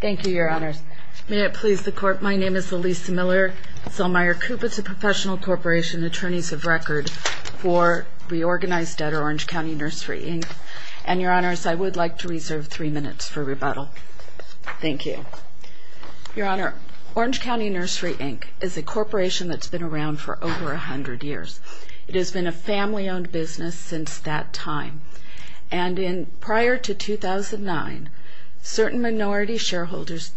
Thank you, Your Honors. May it please the Court, my name is Elisa Miller Zellmeyer-Kupitz of Professional Corporation, Attorneys of Record for Reorganized Debtor, Orange County Nursery, Inc. And, Your Honors, I would like to reserve three minutes for rebuttal. Thank you. Your Honor, Orange County Nursery, Inc. is a corporation that's been around for over 100 years. It has been a family-owned business since that time. And, prior to 2009, certain minority shareholders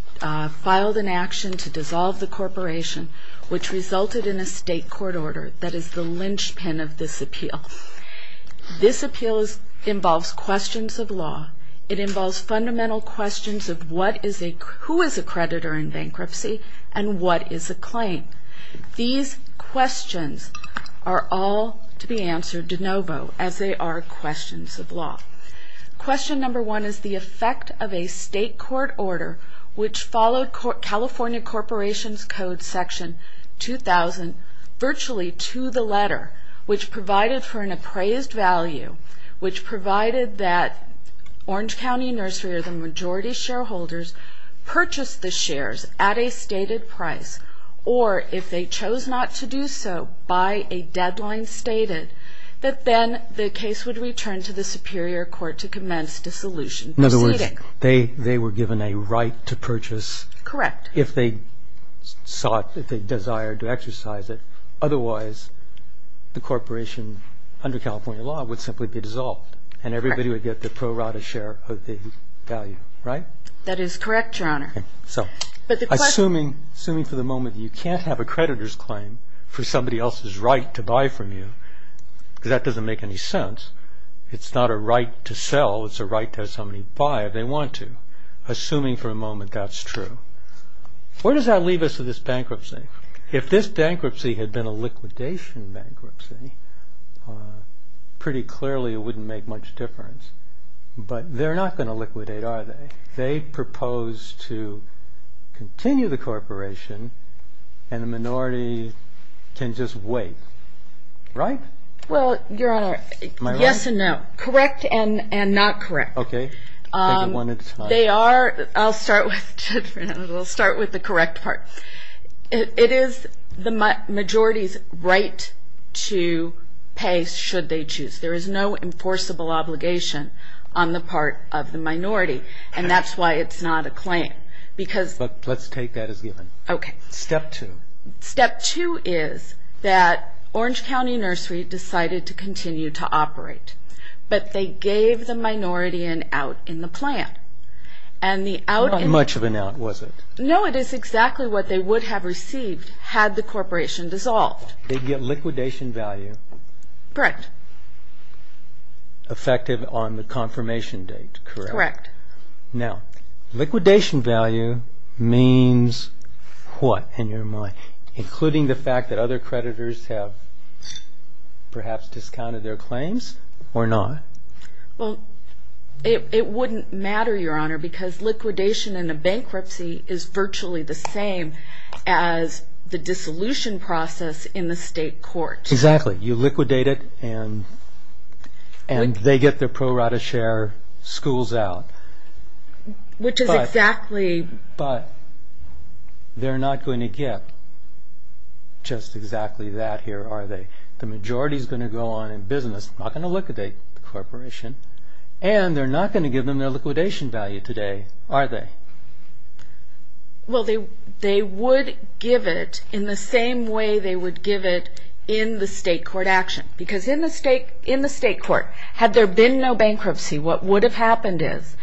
filed an action to dissolve the corporation, which resulted in a state court order that is the linchpin of this appeal. This appeal involves questions of law. It involves fundamental questions of who is a creditor in bankruptcy and what is a claim. These questions are all to be answered de novo, as they are questions of law. Question number one is the effect of a state court order, which followed California Corporations Code Section 2000 virtually to the letter, which provided for an appraised value, which provided that Orange County Nursery or the majority shareholders purchased the shares at a stated price, or if they chose not to do so by a deadline stated, that then the case would return to the superior court to commence dissolution proceeding. In other words, they were given a right to purchase if they sought, if they desired to exercise it. Otherwise, the corporation under California law would simply be dissolved and everybody would get the pro rata share of the value, right? That is correct, Your Honor. Assuming for the moment you can't have a creditor's claim for somebody else's right to buy from you, that doesn't make any sense. It's not a right to sell, it's a right to have somebody buy if they want to, assuming for a moment that's true. Where does that leave us with this bankruptcy? If this bankruptcy had been a liquidation bankruptcy, pretty clearly it wouldn't make much difference, but they're not going to liquidate, are they? They propose to continue the corporation and the minority can just wait, right? Well, Your Honor, yes and no, correct and not correct. Okay, take it one at a time. They are, I'll start with the correct part. It is the majority's right to pay should they choose. There is no enforceable obligation on the part of the minority and that's why it's not a claim. But let's take that as given. Okay. Step two. Step two is that Orange County Nursery decided to continue to operate, but they gave the minority an out in the plan. Not much of an out, was it? No, it is exactly what they would have received had the corporation dissolved. They'd get liquidation value. Correct. Effective on the confirmation date, correct? Correct. Now, liquidation value means what in your mind, including the fact that other creditors have perhaps discounted their claims or not? Well, it wouldn't matter, Your Honor, because liquidation in a bankruptcy is virtually the same as the dissolution process in the state court. Exactly. You liquidate it and they get their pro rata share, school's out. Which is exactly... But they're not going to get just exactly that here, are they? The majority's going to go on in business, not going to liquidate the corporation, and they're not going to give them their liquidation value today, are they? Well, they would give it in the same way they would give it in the state court action. Because in the state court, had there been no bankruptcy, what would have happened is,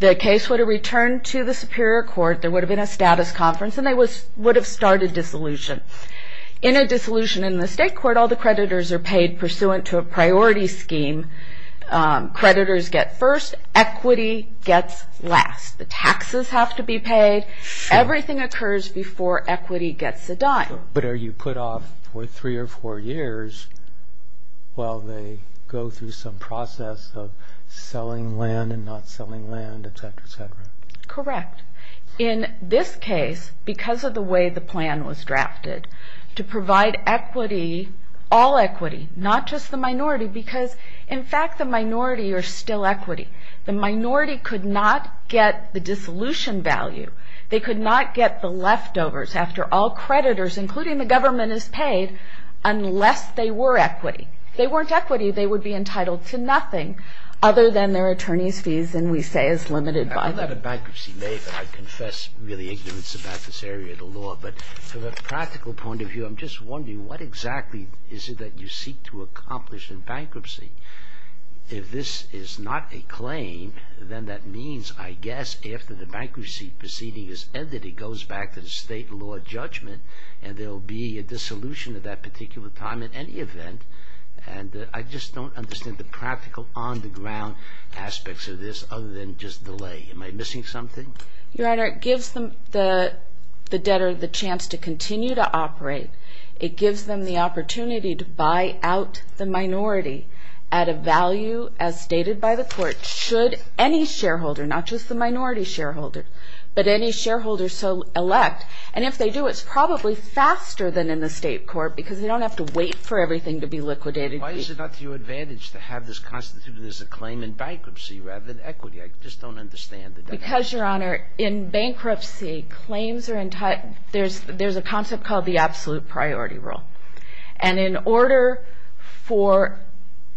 the case would have returned to the superior court, there would have been a status conference, and they would have started dissolution. In a dissolution in the state court, all the creditors are paid pursuant to a priority scheme. Creditors get first, equity gets last. The taxes have to be paid. Everything occurs before equity gets a dime. But are you put off for three or four years while they go through some process of selling land and not selling land, etc., etc.? Correct. In this case, because of the way the plan was drafted, to provide equity, all equity, not just the minority, because, in fact, the minority are still equity. The minority could not get the dissolution value. They could not get the leftovers after all creditors, including the government, is paid unless they were equity. If they weren't equity, they would be entitled to nothing other than their attorney's fees, and we say is limited by them. I'm not a bankruptcy maker. I confess really ignorance about this area of the law. But from a practical point of view, I'm just wondering, what exactly is it that you seek to accomplish in bankruptcy? If this is not a claim, then that means, I guess, after the bankruptcy proceeding is ended, it goes back to the state law judgment, and there will be a dissolution at that particular time in any event. And I just don't understand the practical, on-the-ground aspects of this other than just delay. Am I missing something? Your Honor, it gives the debtor the chance to continue to operate. It gives them the opportunity to buy out the minority at a value, as stated by the court, should any shareholder, not just the minority shareholder, but any shareholder so elect. And if they do, it's probably faster than in the state court because they don't have to wait for everything to be liquidated. Why is it not to your advantage to have this constituted as a claim in bankruptcy rather than equity? I just don't understand the definition. Because, Your Honor, in bankruptcy, there's a concept called the absolute priority rule. And in order for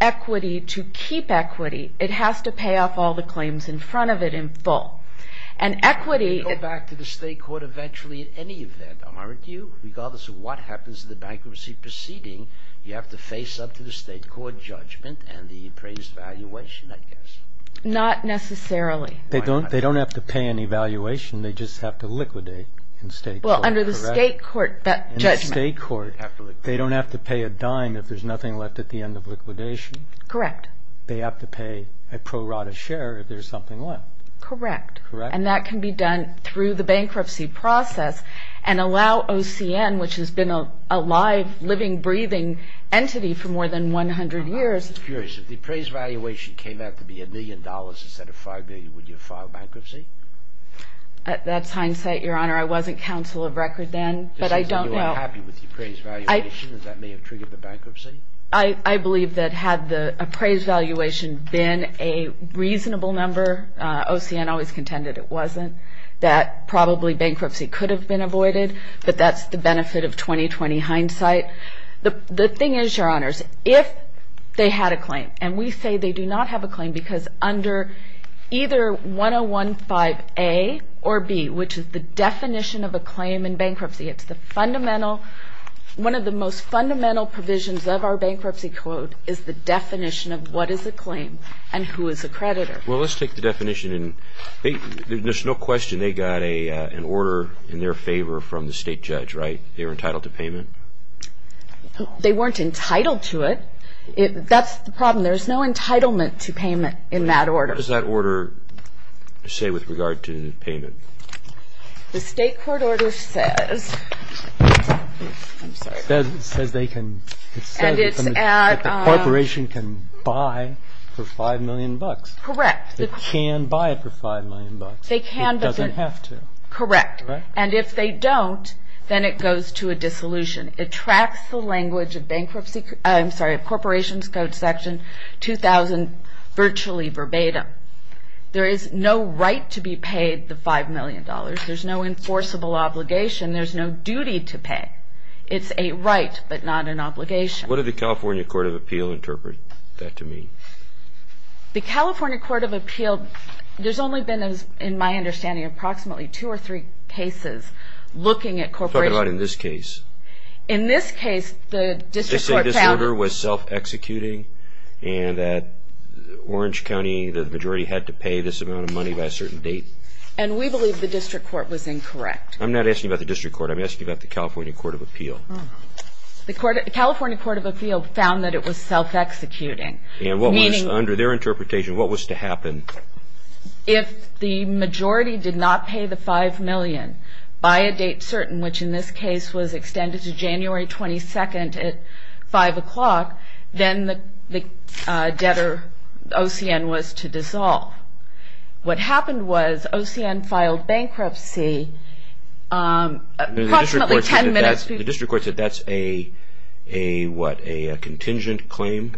equity to keep equity, it has to pay off all the claims in front of it in full. And equity... It can go back to the state court eventually in any event, am I right, Hugh? Regardless of what happens in the bankruptcy proceeding, you have to face up to the state court judgment and the appraised valuation, I guess. Not necessarily. They don't have to pay any valuation. They just have to liquidate in state court. Well, under the state court judgment... In the state court, they don't have to pay a dime if there's nothing left at the end of liquidation. Correct. They have to pay a pro rata share if there's something left. Correct. Correct. And that can be done through the bankruptcy process and allow OCN, which has been a live, living, breathing entity for more than 100 years... That's hindsight, Your Honor. I wasn't counsel of record then, but I don't know. You weren't happy with your appraised valuation and that may have triggered the bankruptcy? I believe that had the appraised valuation been a reasonable number, OCN always contended it wasn't, that probably bankruptcy could have been avoided, but that's the benefit of 20-20 hindsight. The thing is, Your Honors, if they had a claim, and we say they do not have a claim because under either 1015A or B, which is the definition of a claim in bankruptcy, it's the fundamental, one of the most fundamental provisions of our bankruptcy code is the definition of what is a claim and who is a creditor. Well, let's take the definition. There's no question they got an order in their favor from the state judge, right? They were entitled to payment? They weren't entitled to it. That's the problem. There's no entitlement to payment in that order. What does that order say with regard to payment? The state court order says... I'm sorry. It says they can... And it's at... The corporation can buy for $5 million. Correct. They can buy it for $5 million. They can, but they... It doesn't have to. Correct. And if they don't, then it goes to a dissolution. It tracks the language of bankruptcy... I'm sorry, of corporation's code section 2000 virtually verbatim. There is no right to be paid the $5 million. There's no enforceable obligation. There's no duty to pay. It's a right, but not an obligation. What did the California Court of Appeal interpret that to mean? The California Court of Appeal, there's only been, in my understanding, approximately two or three cases looking at corporations... Let's talk about in this case. In this case, the district court found... They said this order was self-executing and that Orange County, the majority, had to pay this amount of money by a certain date. And we believe the district court was incorrect. I'm not asking about the district court. I'm asking about the California Court of Appeal. The California Court of Appeal found that it was self-executing. And what was, under their interpretation, what was to happen? If the majority did not pay the $5 million by a date certain, which in this case was extended to January 22nd at 5 o'clock, then the debtor, OCN, was to dissolve. What happened was OCN filed bankruptcy approximately 10 minutes... The district court said that's a, what, a contingent claim?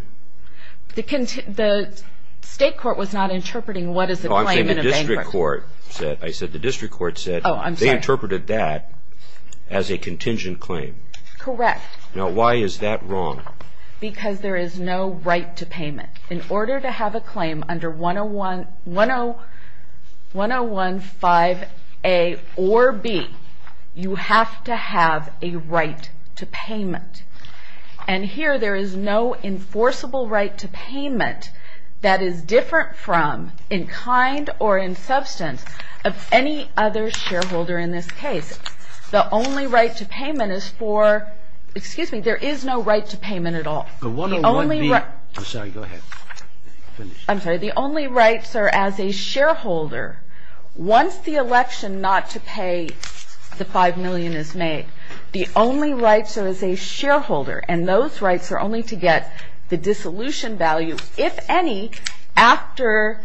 The state court was not interpreting what is a claim in a bankruptcy. Oh, I'm saying the district court said... I said the district court said... Oh, I'm sorry. They interpreted that as a contingent claim. Correct. Now, why is that wrong? Because there is no right to payment. In order to have a claim under 1015A or B, you have to have a right to payment. And here there is no enforceable right to payment that is different from, in kind or in substance, of any other shareholder in this case. The only right to payment is for... Excuse me, there is no right to payment at all. The 101B... The only right... I'm sorry, go ahead. Finish. I'm sorry. The only rights are as a shareholder. Once the election not to pay the $5 million is made, the only rights are as a shareholder. And those rights are only to get the dissolution value, if any, after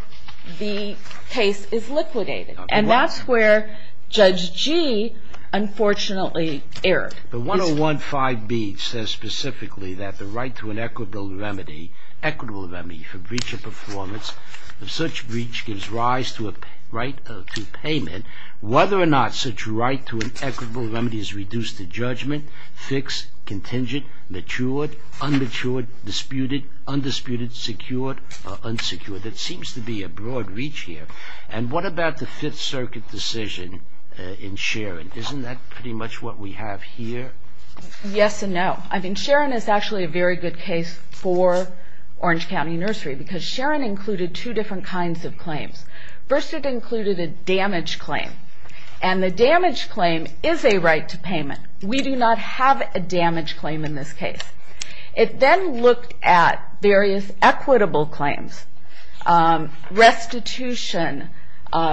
the case is liquidated. And that's where Judge G, unfortunately, erred. The 101B says specifically that the right to an equitable remedy for breach of performance, if such breach gives rise to a right to payment, whether or not such right to an equitable remedy is reduced to judgment, fixed, contingent, matured, unmatured, disputed, undisputed, secured, or unsecured. There seems to be a broad reach here. And what about the Fifth Circuit decision in Sharon? Isn't that pretty much what we have here? Yes and no. I mean, Sharon is actually a very good case for Orange County Nursery because Sharon included two different kinds of claims. First, it included a damage claim. And the damage claim is a right to payment. We do not have a damage claim in this case. It then looked at various equitable claims, restitution,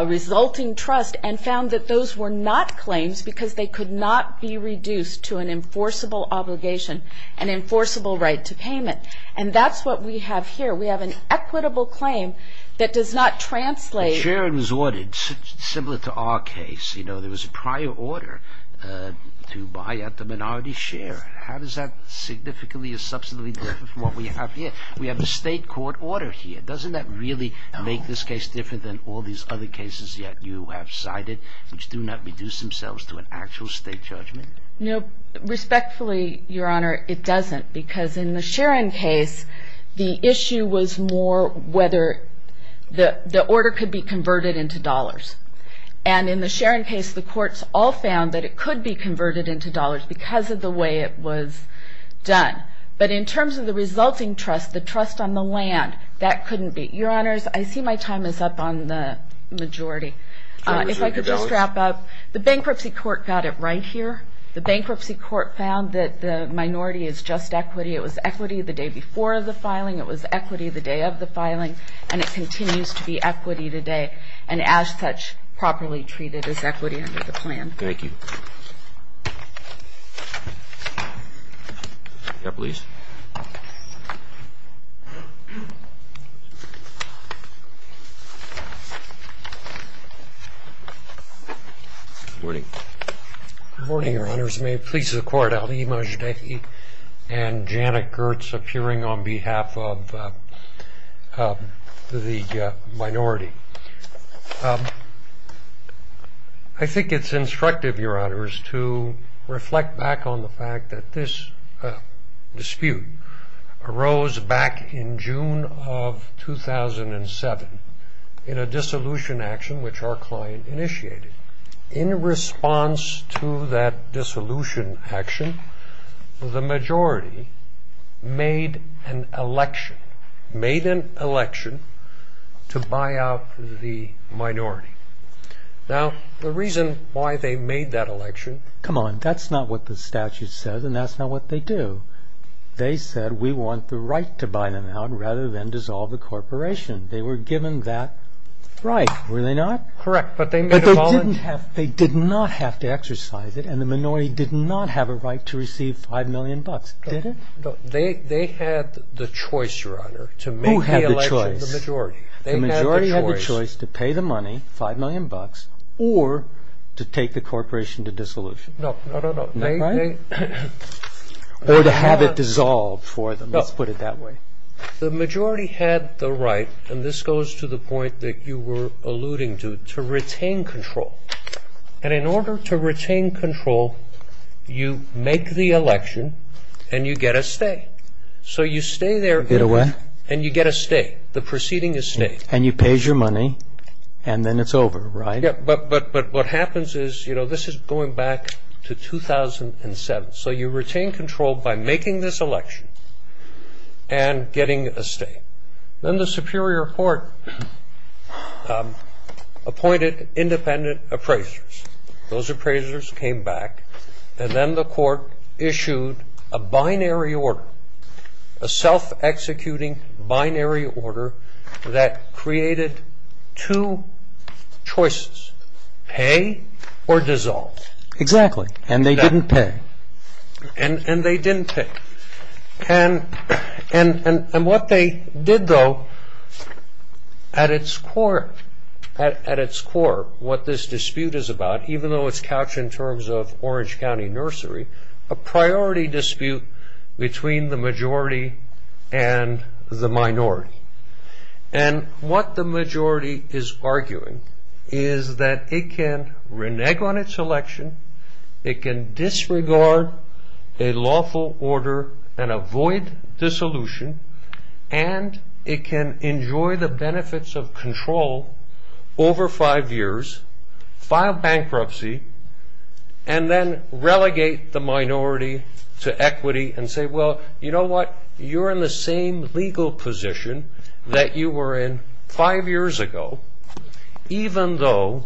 resulting trust, and found that those were not claims because they could not be reduced to an enforceable obligation, an enforceable right to payment. And that's what we have here. We have an equitable claim that does not translate. But Sharon was ordered, similar to our case, you know, there was a prior order to buy out the minority share. How does that significantly or substantially differ from what we have here? We have a state court order here. Doesn't that really make this case different than all these other cases yet you have cited, which do not reduce themselves to an actual state judgment? No, respectfully, Your Honor, it doesn't. Because in the Sharon case, the issue was more whether the order could be converted into dollars. And in the Sharon case, the courts all found that it could be converted into dollars because of the way it was done. But in terms of the resulting trust, the trust on the land, that couldn't be. Your Honors, I see my time is up on the majority. If I could just wrap up. The bankruptcy court got it right here. The bankruptcy court found that the minority is just equity. It was equity the day before the filing. It was equity the day of the filing. And it continues to be equity today, and as such, properly treated as equity under the plan. Thank you. Yeah, please. Good morning. Good morning, Your Honors. May it please the Court, Ali Majdahi and Janet Gertz appearing on behalf of the minority. I think it's instructive, Your Honors, to reflect back on the fact that this dispute arose back in June of 2007 in a dissolution action which our client initiated. In response to that dissolution action, the majority made an election. Made an election to buy out the minority. Now, the reason why they made that election... Come on, that's not what the statute says, and that's not what they do. They said, we want the right to buy them out rather than dissolve the corporation. They were given that right, were they not? Correct, but they made a voluntary... But they did not have to exercise it, and the minority did not have a right to receive 5 million bucks, did it? No. They had the choice, Your Honor, to make the election... Who had the choice? The majority. The majority had the choice to pay the money, 5 million bucks, or to take the corporation to dissolution. No, no, no, no. Right? Or to have it dissolved for them, let's put it that way. The majority had the right, and this goes to the point that you were alluding to, to retain control. And in order to retain control, you make the election, and you get a stay. So you stay there... In a way. And you get a stay. The proceeding is stayed. And you pay your money, and then it's over, right? Yeah, but what happens is, you know, this is going back to 2007. So you retain control by making this election and getting a stay. Then the superior court appointed independent appraisers. Those appraisers came back, and then the court issued a binary order, a self-executing binary order that created two choices, pay or dissolve. Exactly. And they didn't pay. And they didn't pay. And what they did, though, at its core, what this dispute is about, even though it's couched in terms of Orange County Nursery, a priority dispute between the majority and the minority. And what the majority is arguing is that it can renege on its election, it can disregard a lawful order and avoid dissolution, and it can enjoy the benefits of control over five years, file bankruptcy, and then relegate the minority to equity and say, well, you know what, you're in the same legal position that you were in five years ago, even though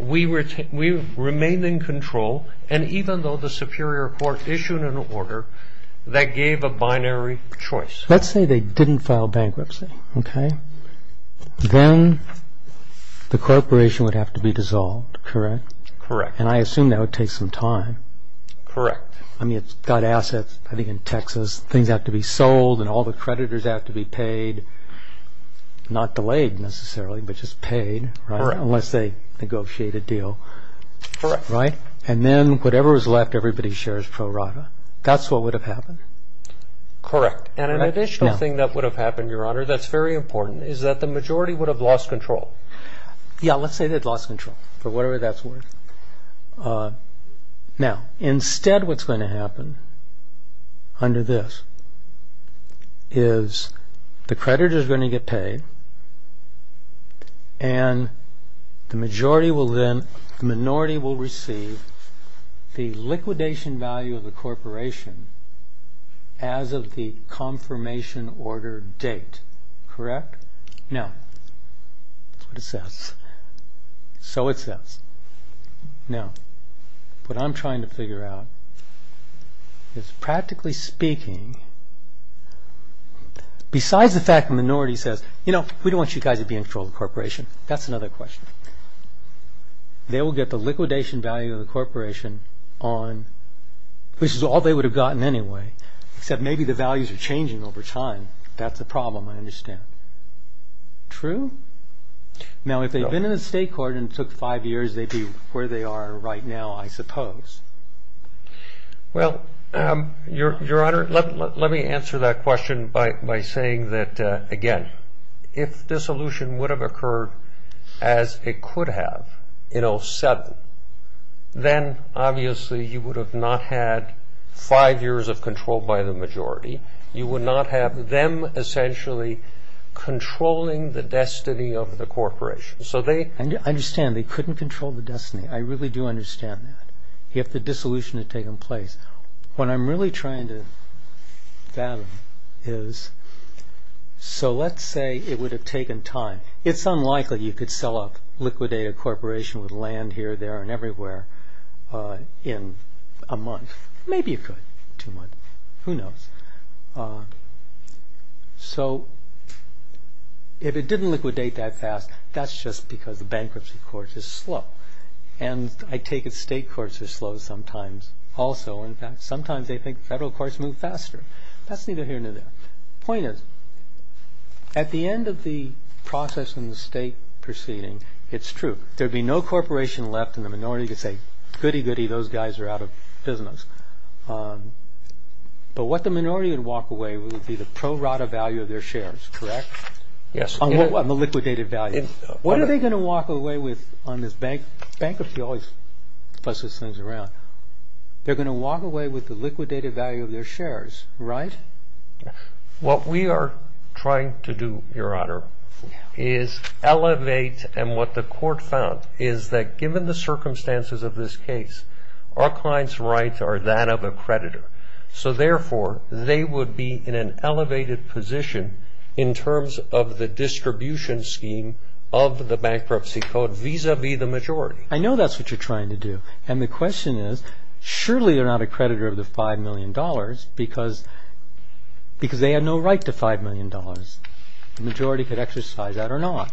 we remained in control and even though the superior court issued an order that gave a binary choice. Let's say they didn't file bankruptcy, okay? Then the corporation would have to be dissolved, correct? Correct. And I assume that would take some time. Correct. I mean, it's got assets, I think, in Texas. Things have to be sold and all the creditors have to be paid, not delayed necessarily, but just paid, right? Correct. Unless they negotiate a deal. Correct. Right? And then whatever is left, everybody shares pro rata. That's what would have happened. Correct. And an additional thing that would have happened, Your Honor, that's very important, is that the majority would have lost control. Yeah, let's say they'd lost control for whatever that's worth. Now, instead what's going to happen under this is the creditors are going to get paid and the minority will receive the liquidation value of the corporation as of the confirmation order date. Correct? So it says. Now, what I'm trying to figure out is, practically speaking, besides the fact the minority says, you know, we don't want you guys to be in control of the corporation. That's another question. They will get the liquidation value of the corporation on, which is all they would have gotten anyway, except maybe the values are changing over time. That's a problem, I understand. True? Now, if they've been in the state court and it took five years, they'd be where they are right now, I suppose. Well, Your Honor, let me answer that question by saying that, again, if dissolution would have occurred as it could have in 07, then obviously you would have not had five years of control by the majority. You would not have them essentially controlling the destiny of the corporation. I understand they couldn't control the destiny. I really do understand that if the dissolution had taken place. What I'm really trying to fathom is, so let's say it would have taken time. It's unlikely you could sell a liquidated corporation with land here, there, and everywhere in a month. Maybe you could, two months, who knows. So if it didn't liquidate that fast, that's just because the bankruptcy court is slow. And I take it state courts are slow sometimes also. In fact, sometimes they think federal courts move faster. That's neither here nor there. The point is, at the end of the process in the state proceeding, it's true. There would be no corporation left and the minority could say, goody, goody, those guys are out of business. But what the minority would walk away with would be the pro rata value of their shares, correct? Yes. On the liquidated value. What are they going to walk away with on this bank? Bankruptcy always fusses things around. They're going to walk away with the liquidated value of their shares, right? What we are trying to do, Your Honor, is elevate, and what the court found is that given the circumstances of this case, our client's rights are that of a creditor. So, therefore, they would be in an elevated position in terms of the distribution scheme of the bankruptcy code vis-à-vis the majority. I know that's what you're trying to do. And the question is, surely they're not a creditor of the $5 million because they had no right to $5 million. The majority could exercise that or not.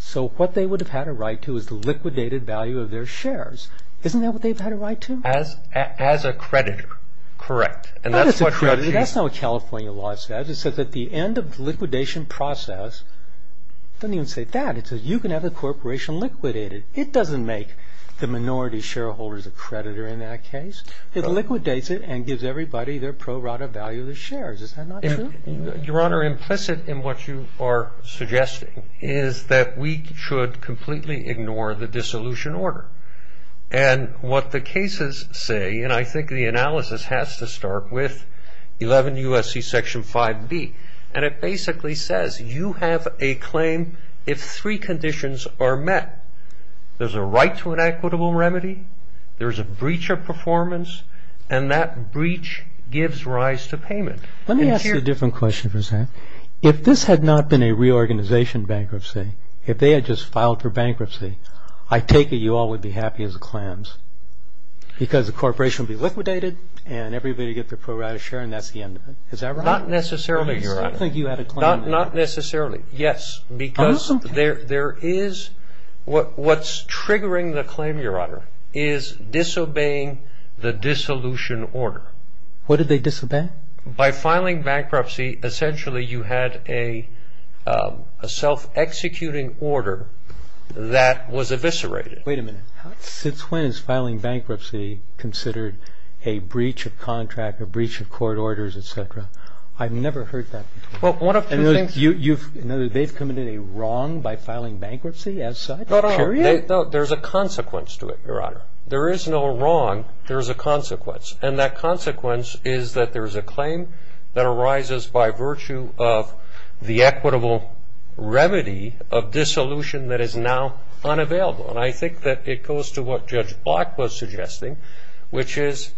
So what they would have had a right to is the liquidated value of their shares. Isn't that what they've had a right to? As a creditor, correct. That's not what California law says. It says at the end of the liquidation process, it doesn't even say that. It says you can have the corporation liquidated. It doesn't make the minority shareholders a creditor in that case. It liquidates it and gives everybody their pro rata value of the shares. Is that not true? Your Honor, implicit in what you are suggesting is that we should completely ignore the dissolution order. And what the cases say, and I think the analysis has to start with 11 U.S.C. Section 5B, and it basically says you have a claim if three conditions are met. There's a right to an equitable remedy. There's a breach of performance. And that breach gives rise to payment. Let me ask you a different question for a second. If this had not been a reorganization bankruptcy, if they had just filed for bankruptcy, I take it you all would be happy as clams because the corporation would be liquidated and everybody would get their pro rata share and that's the end of it. Is that right? Not necessarily, Your Honor. I don't think you had a claim. Not necessarily. Yes, because there is what's triggering the claim, Your Honor, is disobeying the dissolution order. What did they disobey? By filing bankruptcy, essentially you had a self-executing order that was eviscerated. Wait a minute. Since when is filing bankruptcy considered a breach of contract, a breach of court orders, et cetera? I've never heard that before. They've committed a wrong by filing bankruptcy as such, period? No, there's a consequence to it, Your Honor. There is no wrong. There's a consequence. And that consequence is that there's a claim that arises by virtue of the equitable remedy of dissolution that is now unavailable. And I think that it goes to what Judge Block was suggesting, which is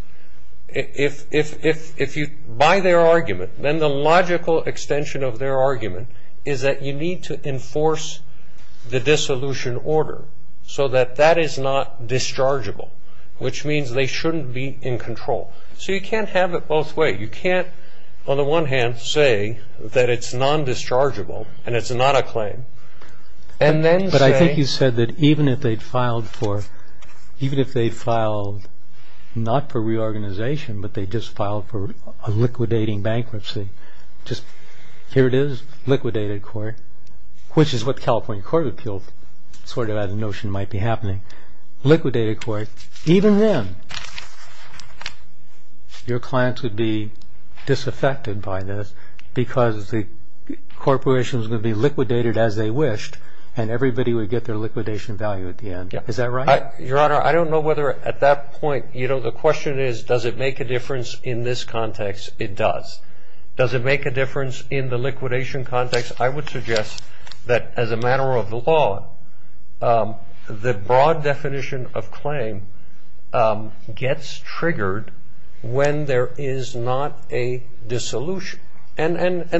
if you buy their argument, then the logical extension of their argument is that you need to enforce the dissolution order so that that is not dischargeable, which means they shouldn't be in control. So you can't have it both ways. You can't, on the one hand, say that it's non-dischargeable and it's not a claim. But I think you said that even if they'd filed not for reorganization, but they just filed for a liquidating bankruptcy, just here it is, liquidated court, which is what California Court of Appeals sort of had a notion might be happening. Liquidated court, even then, your clients would be disaffected by this because the corporation is going to be liquidated as they wished and everybody would get their liquidation value at the end. Is that right? Your Honor, I don't know whether at that point, you know, the question is does it make a difference in this context? It does. Does it make a difference in the liquidation context? I would suggest that as a matter of the law, the broad definition of claim gets triggered when there is not a dissolution. And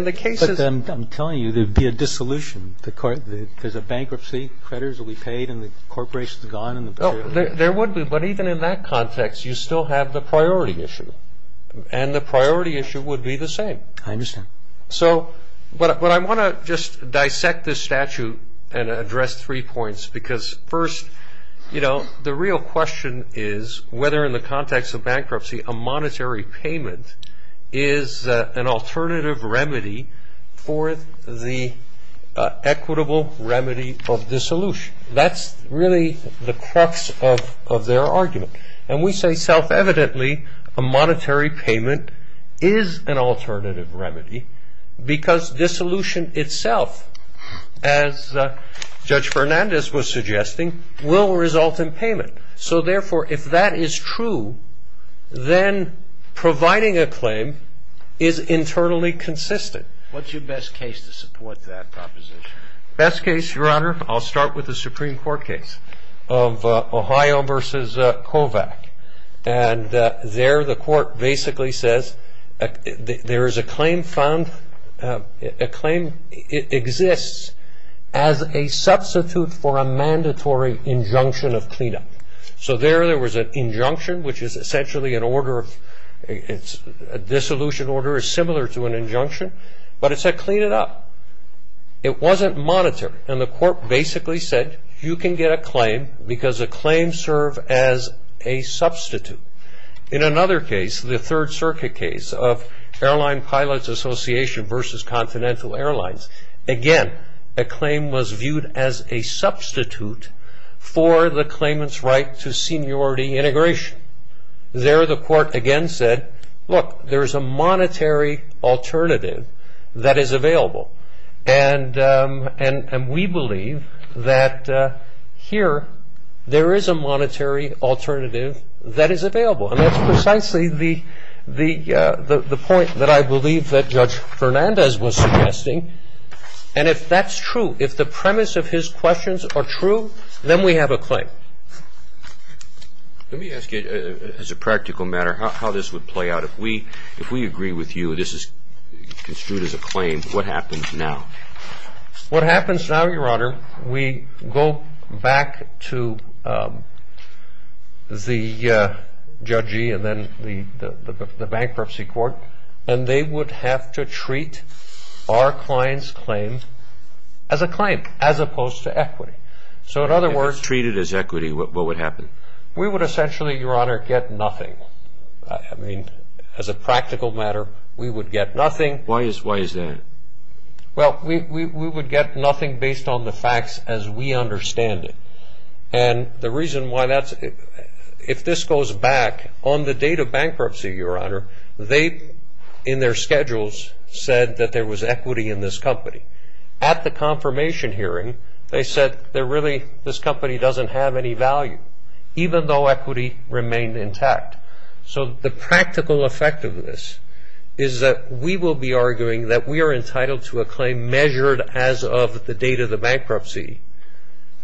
the case is ‑‑ But I'm telling you, there would be a dissolution. There's a bankruptcy. Creditors will be paid and the corporation is gone. There would be. But even in that context, you still have the priority issue. And the priority issue would be the same. I understand. So, but I want to just dissect this statute and address three points because first, you know, the real question is whether in the context of bankruptcy, a monetary payment is an alternative remedy for the equitable remedy of dissolution. That's really the crux of their argument. And we say self‑evidently a monetary payment is an alternative remedy because dissolution itself, as Judge Fernandez was suggesting, will result in payment. So, therefore, if that is true, then providing a claim is internally consistent. What's your best case to support that proposition? Best case, Your Honor, I'll start with the Supreme Court case of Ohio versus Kovac. And there the court basically says there is a claim found, a claim exists as a substitute for a mandatory injunction of cleanup. So, there, there was an injunction, which is essentially an order of, a dissolution order is similar to an injunction, but it said clean it up. It wasn't monetary. And the court basically said you can get a claim because a claim serves as a substitute. In another case, the Third Circuit case of Airline Pilots Association versus Continental Airlines, again, a claim was viewed as a substitute for the claimant's right to seniority integration. There the court again said, look, there is a monetary alternative that is available. And we believe that here there is a monetary alternative that is available. And that's precisely the point that I believe that Judge Fernandez was suggesting. And if that's true, if the premise of his questions are true, then we have a claim. Let me ask you, as a practical matter, how this would play out. If we agree with you this is construed as a claim, what happens now? What happens now, Your Honor, we go back to the judgee and then the bankruptcy court, and they would have to treat our client's claim as a claim, as opposed to equity. So, in other words. If it's treated as equity, what would happen? We would essentially, Your Honor, get nothing. I mean, as a practical matter, we would get nothing. Why is that? Well, we would get nothing based on the facts as we understand it. And the reason why that's, if this goes back, on the date of bankruptcy, Your Honor, they, in their schedules, said that there was equity in this company. At the confirmation hearing, they said that really this company doesn't have any value, even though equity remained intact. So, the practical effect of this is that we will be arguing that we are entitled to a claim measured as of the date of the bankruptcy.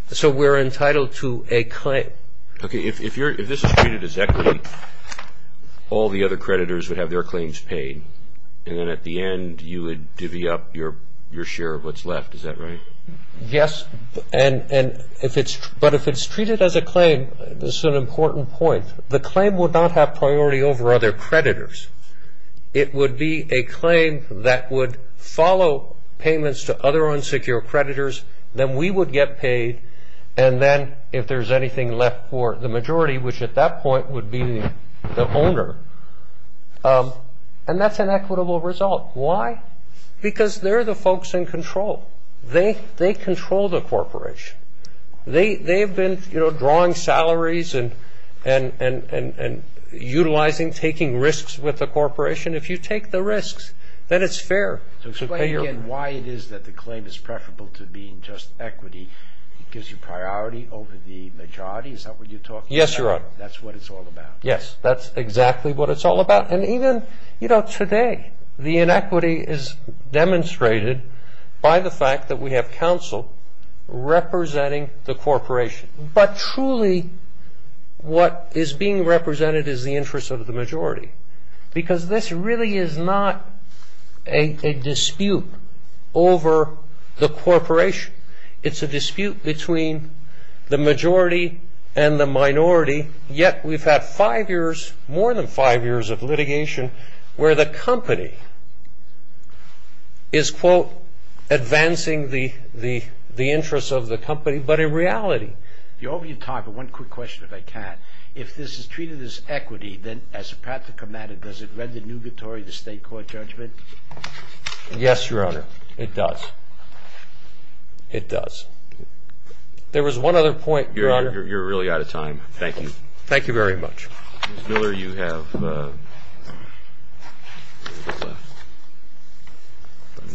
So, we're entitled to a claim. Okay. If this is treated as equity, all the other creditors would have their claims paid, and then at the end you would divvy up your share of what's left. Is that right? Yes. But if it's treated as a claim, this is an important point, the claim would not have priority over other creditors. It would be a claim that would follow payments to other unsecure creditors, then we would get paid, and then if there's anything left for the majority, which at that point would be the owner, and that's an equitable result. Why? Because they're the folks in control. They control the corporation. They've been drawing salaries and utilizing, taking risks with the corporation. If you take the risks, then it's fair. Explain again why it is that the claim is preferable to being just equity. It gives you priority over the majority. Is that what you're talking about? Yes, Your Honor. That's what it's all about. Yes, that's exactly what it's all about. Today, the inequity is demonstrated by the fact that we have counsel representing the corporation, but truly what is being represented is the interest of the majority because this really is not a dispute over the corporation. It's a dispute between the majority and the minority, yet we've had five years, more than five years, of litigation where the company is, quote, advancing the interests of the company, but in reality. If you'll open your time for one quick question, if I can. If this is treated as equity, then as a practical matter, does it render new victory the state court judgment? Yes, Your Honor, it does. It does. There was one other point, Your Honor. You're really out of time. Thank you. Thank you very much. Ms. Miller, you have a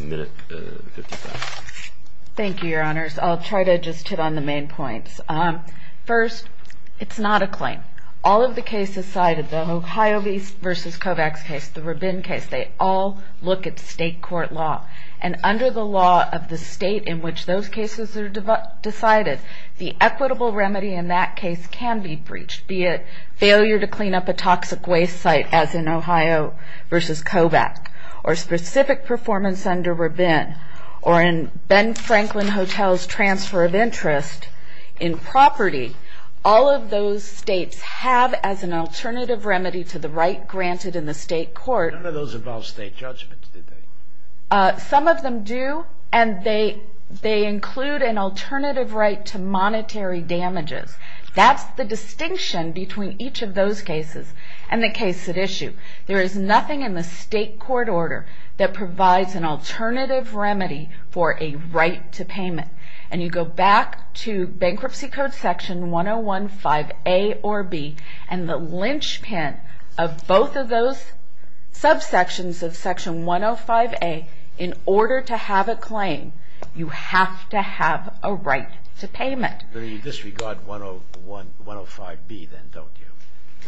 minute and 55 seconds. Thank you, Your Honors. I'll try to just hit on the main points. First, it's not a claim. All of the cases cited, the Ohio East versus Kovacs case, the Rabin case, they all look at state court law, and under the law of the state in which those cases are decided, the equitable remedy in that case can be breached, be it failure to clean up a toxic waste site, as in Ohio versus Kovac, or specific performance under Rabin, or in Ben Franklin Hotel's transfer of interest in property. All of those states have as an alternative remedy to the right granted in the state court. None of those involve state judgments, do they? Some of them do, and they include an alternative right to monetary damages. That's the distinction between each of those cases and the case at issue. There is nothing in the state court order that provides an alternative remedy for a right to payment. And you go back to Bankruptcy Code Section 1015A or B, and the linchpin of both of those subsections of Section 105A, in order to have a claim, you have to have a right to payment. But you disregard 105B, then, don't you?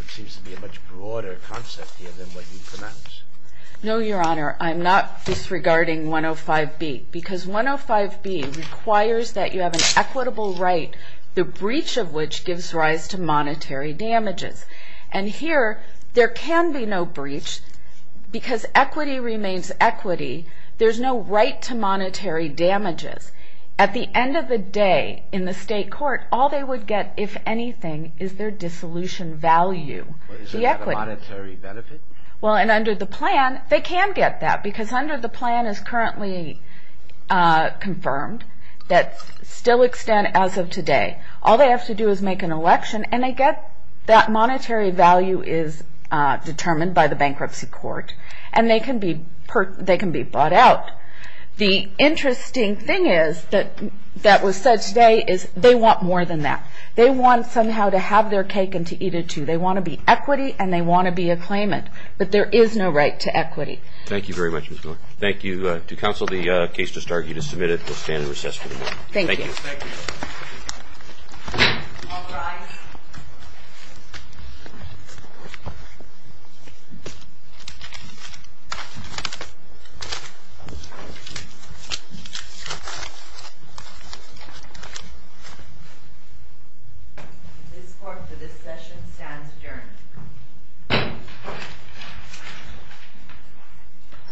It seems to be a much broader concept here than what you pronounce. No, Your Honor, I'm not disregarding 105B, because 105B requires that you have an equitable right, the breach of which gives rise to monetary damages. And here, there can be no breach, because equity remains equity. There's no right to monetary damages. At the end of the day, in the state court, all they would get, if anything, is their dissolution value, the equity. Is there not a monetary benefit? Well, and under the plan, they can get that, because under the plan, as currently confirmed, that still extends as of today. All they have to do is make an election, and they get that monetary value is determined by the bankruptcy court, and they can be bought out. The interesting thing that was said today is they want more than that. They want somehow to have their cake and to eat it, too. They want to be equity, and they want to be a claimant. But there is no right to equity. Thank you very much, Ms. Miller. Thank you. To counsel, the case just argued is submitted. We'll stand in recess for the morning. Thank you. Thank you. Thank you. All rise. This court, for this session, stands adjourned.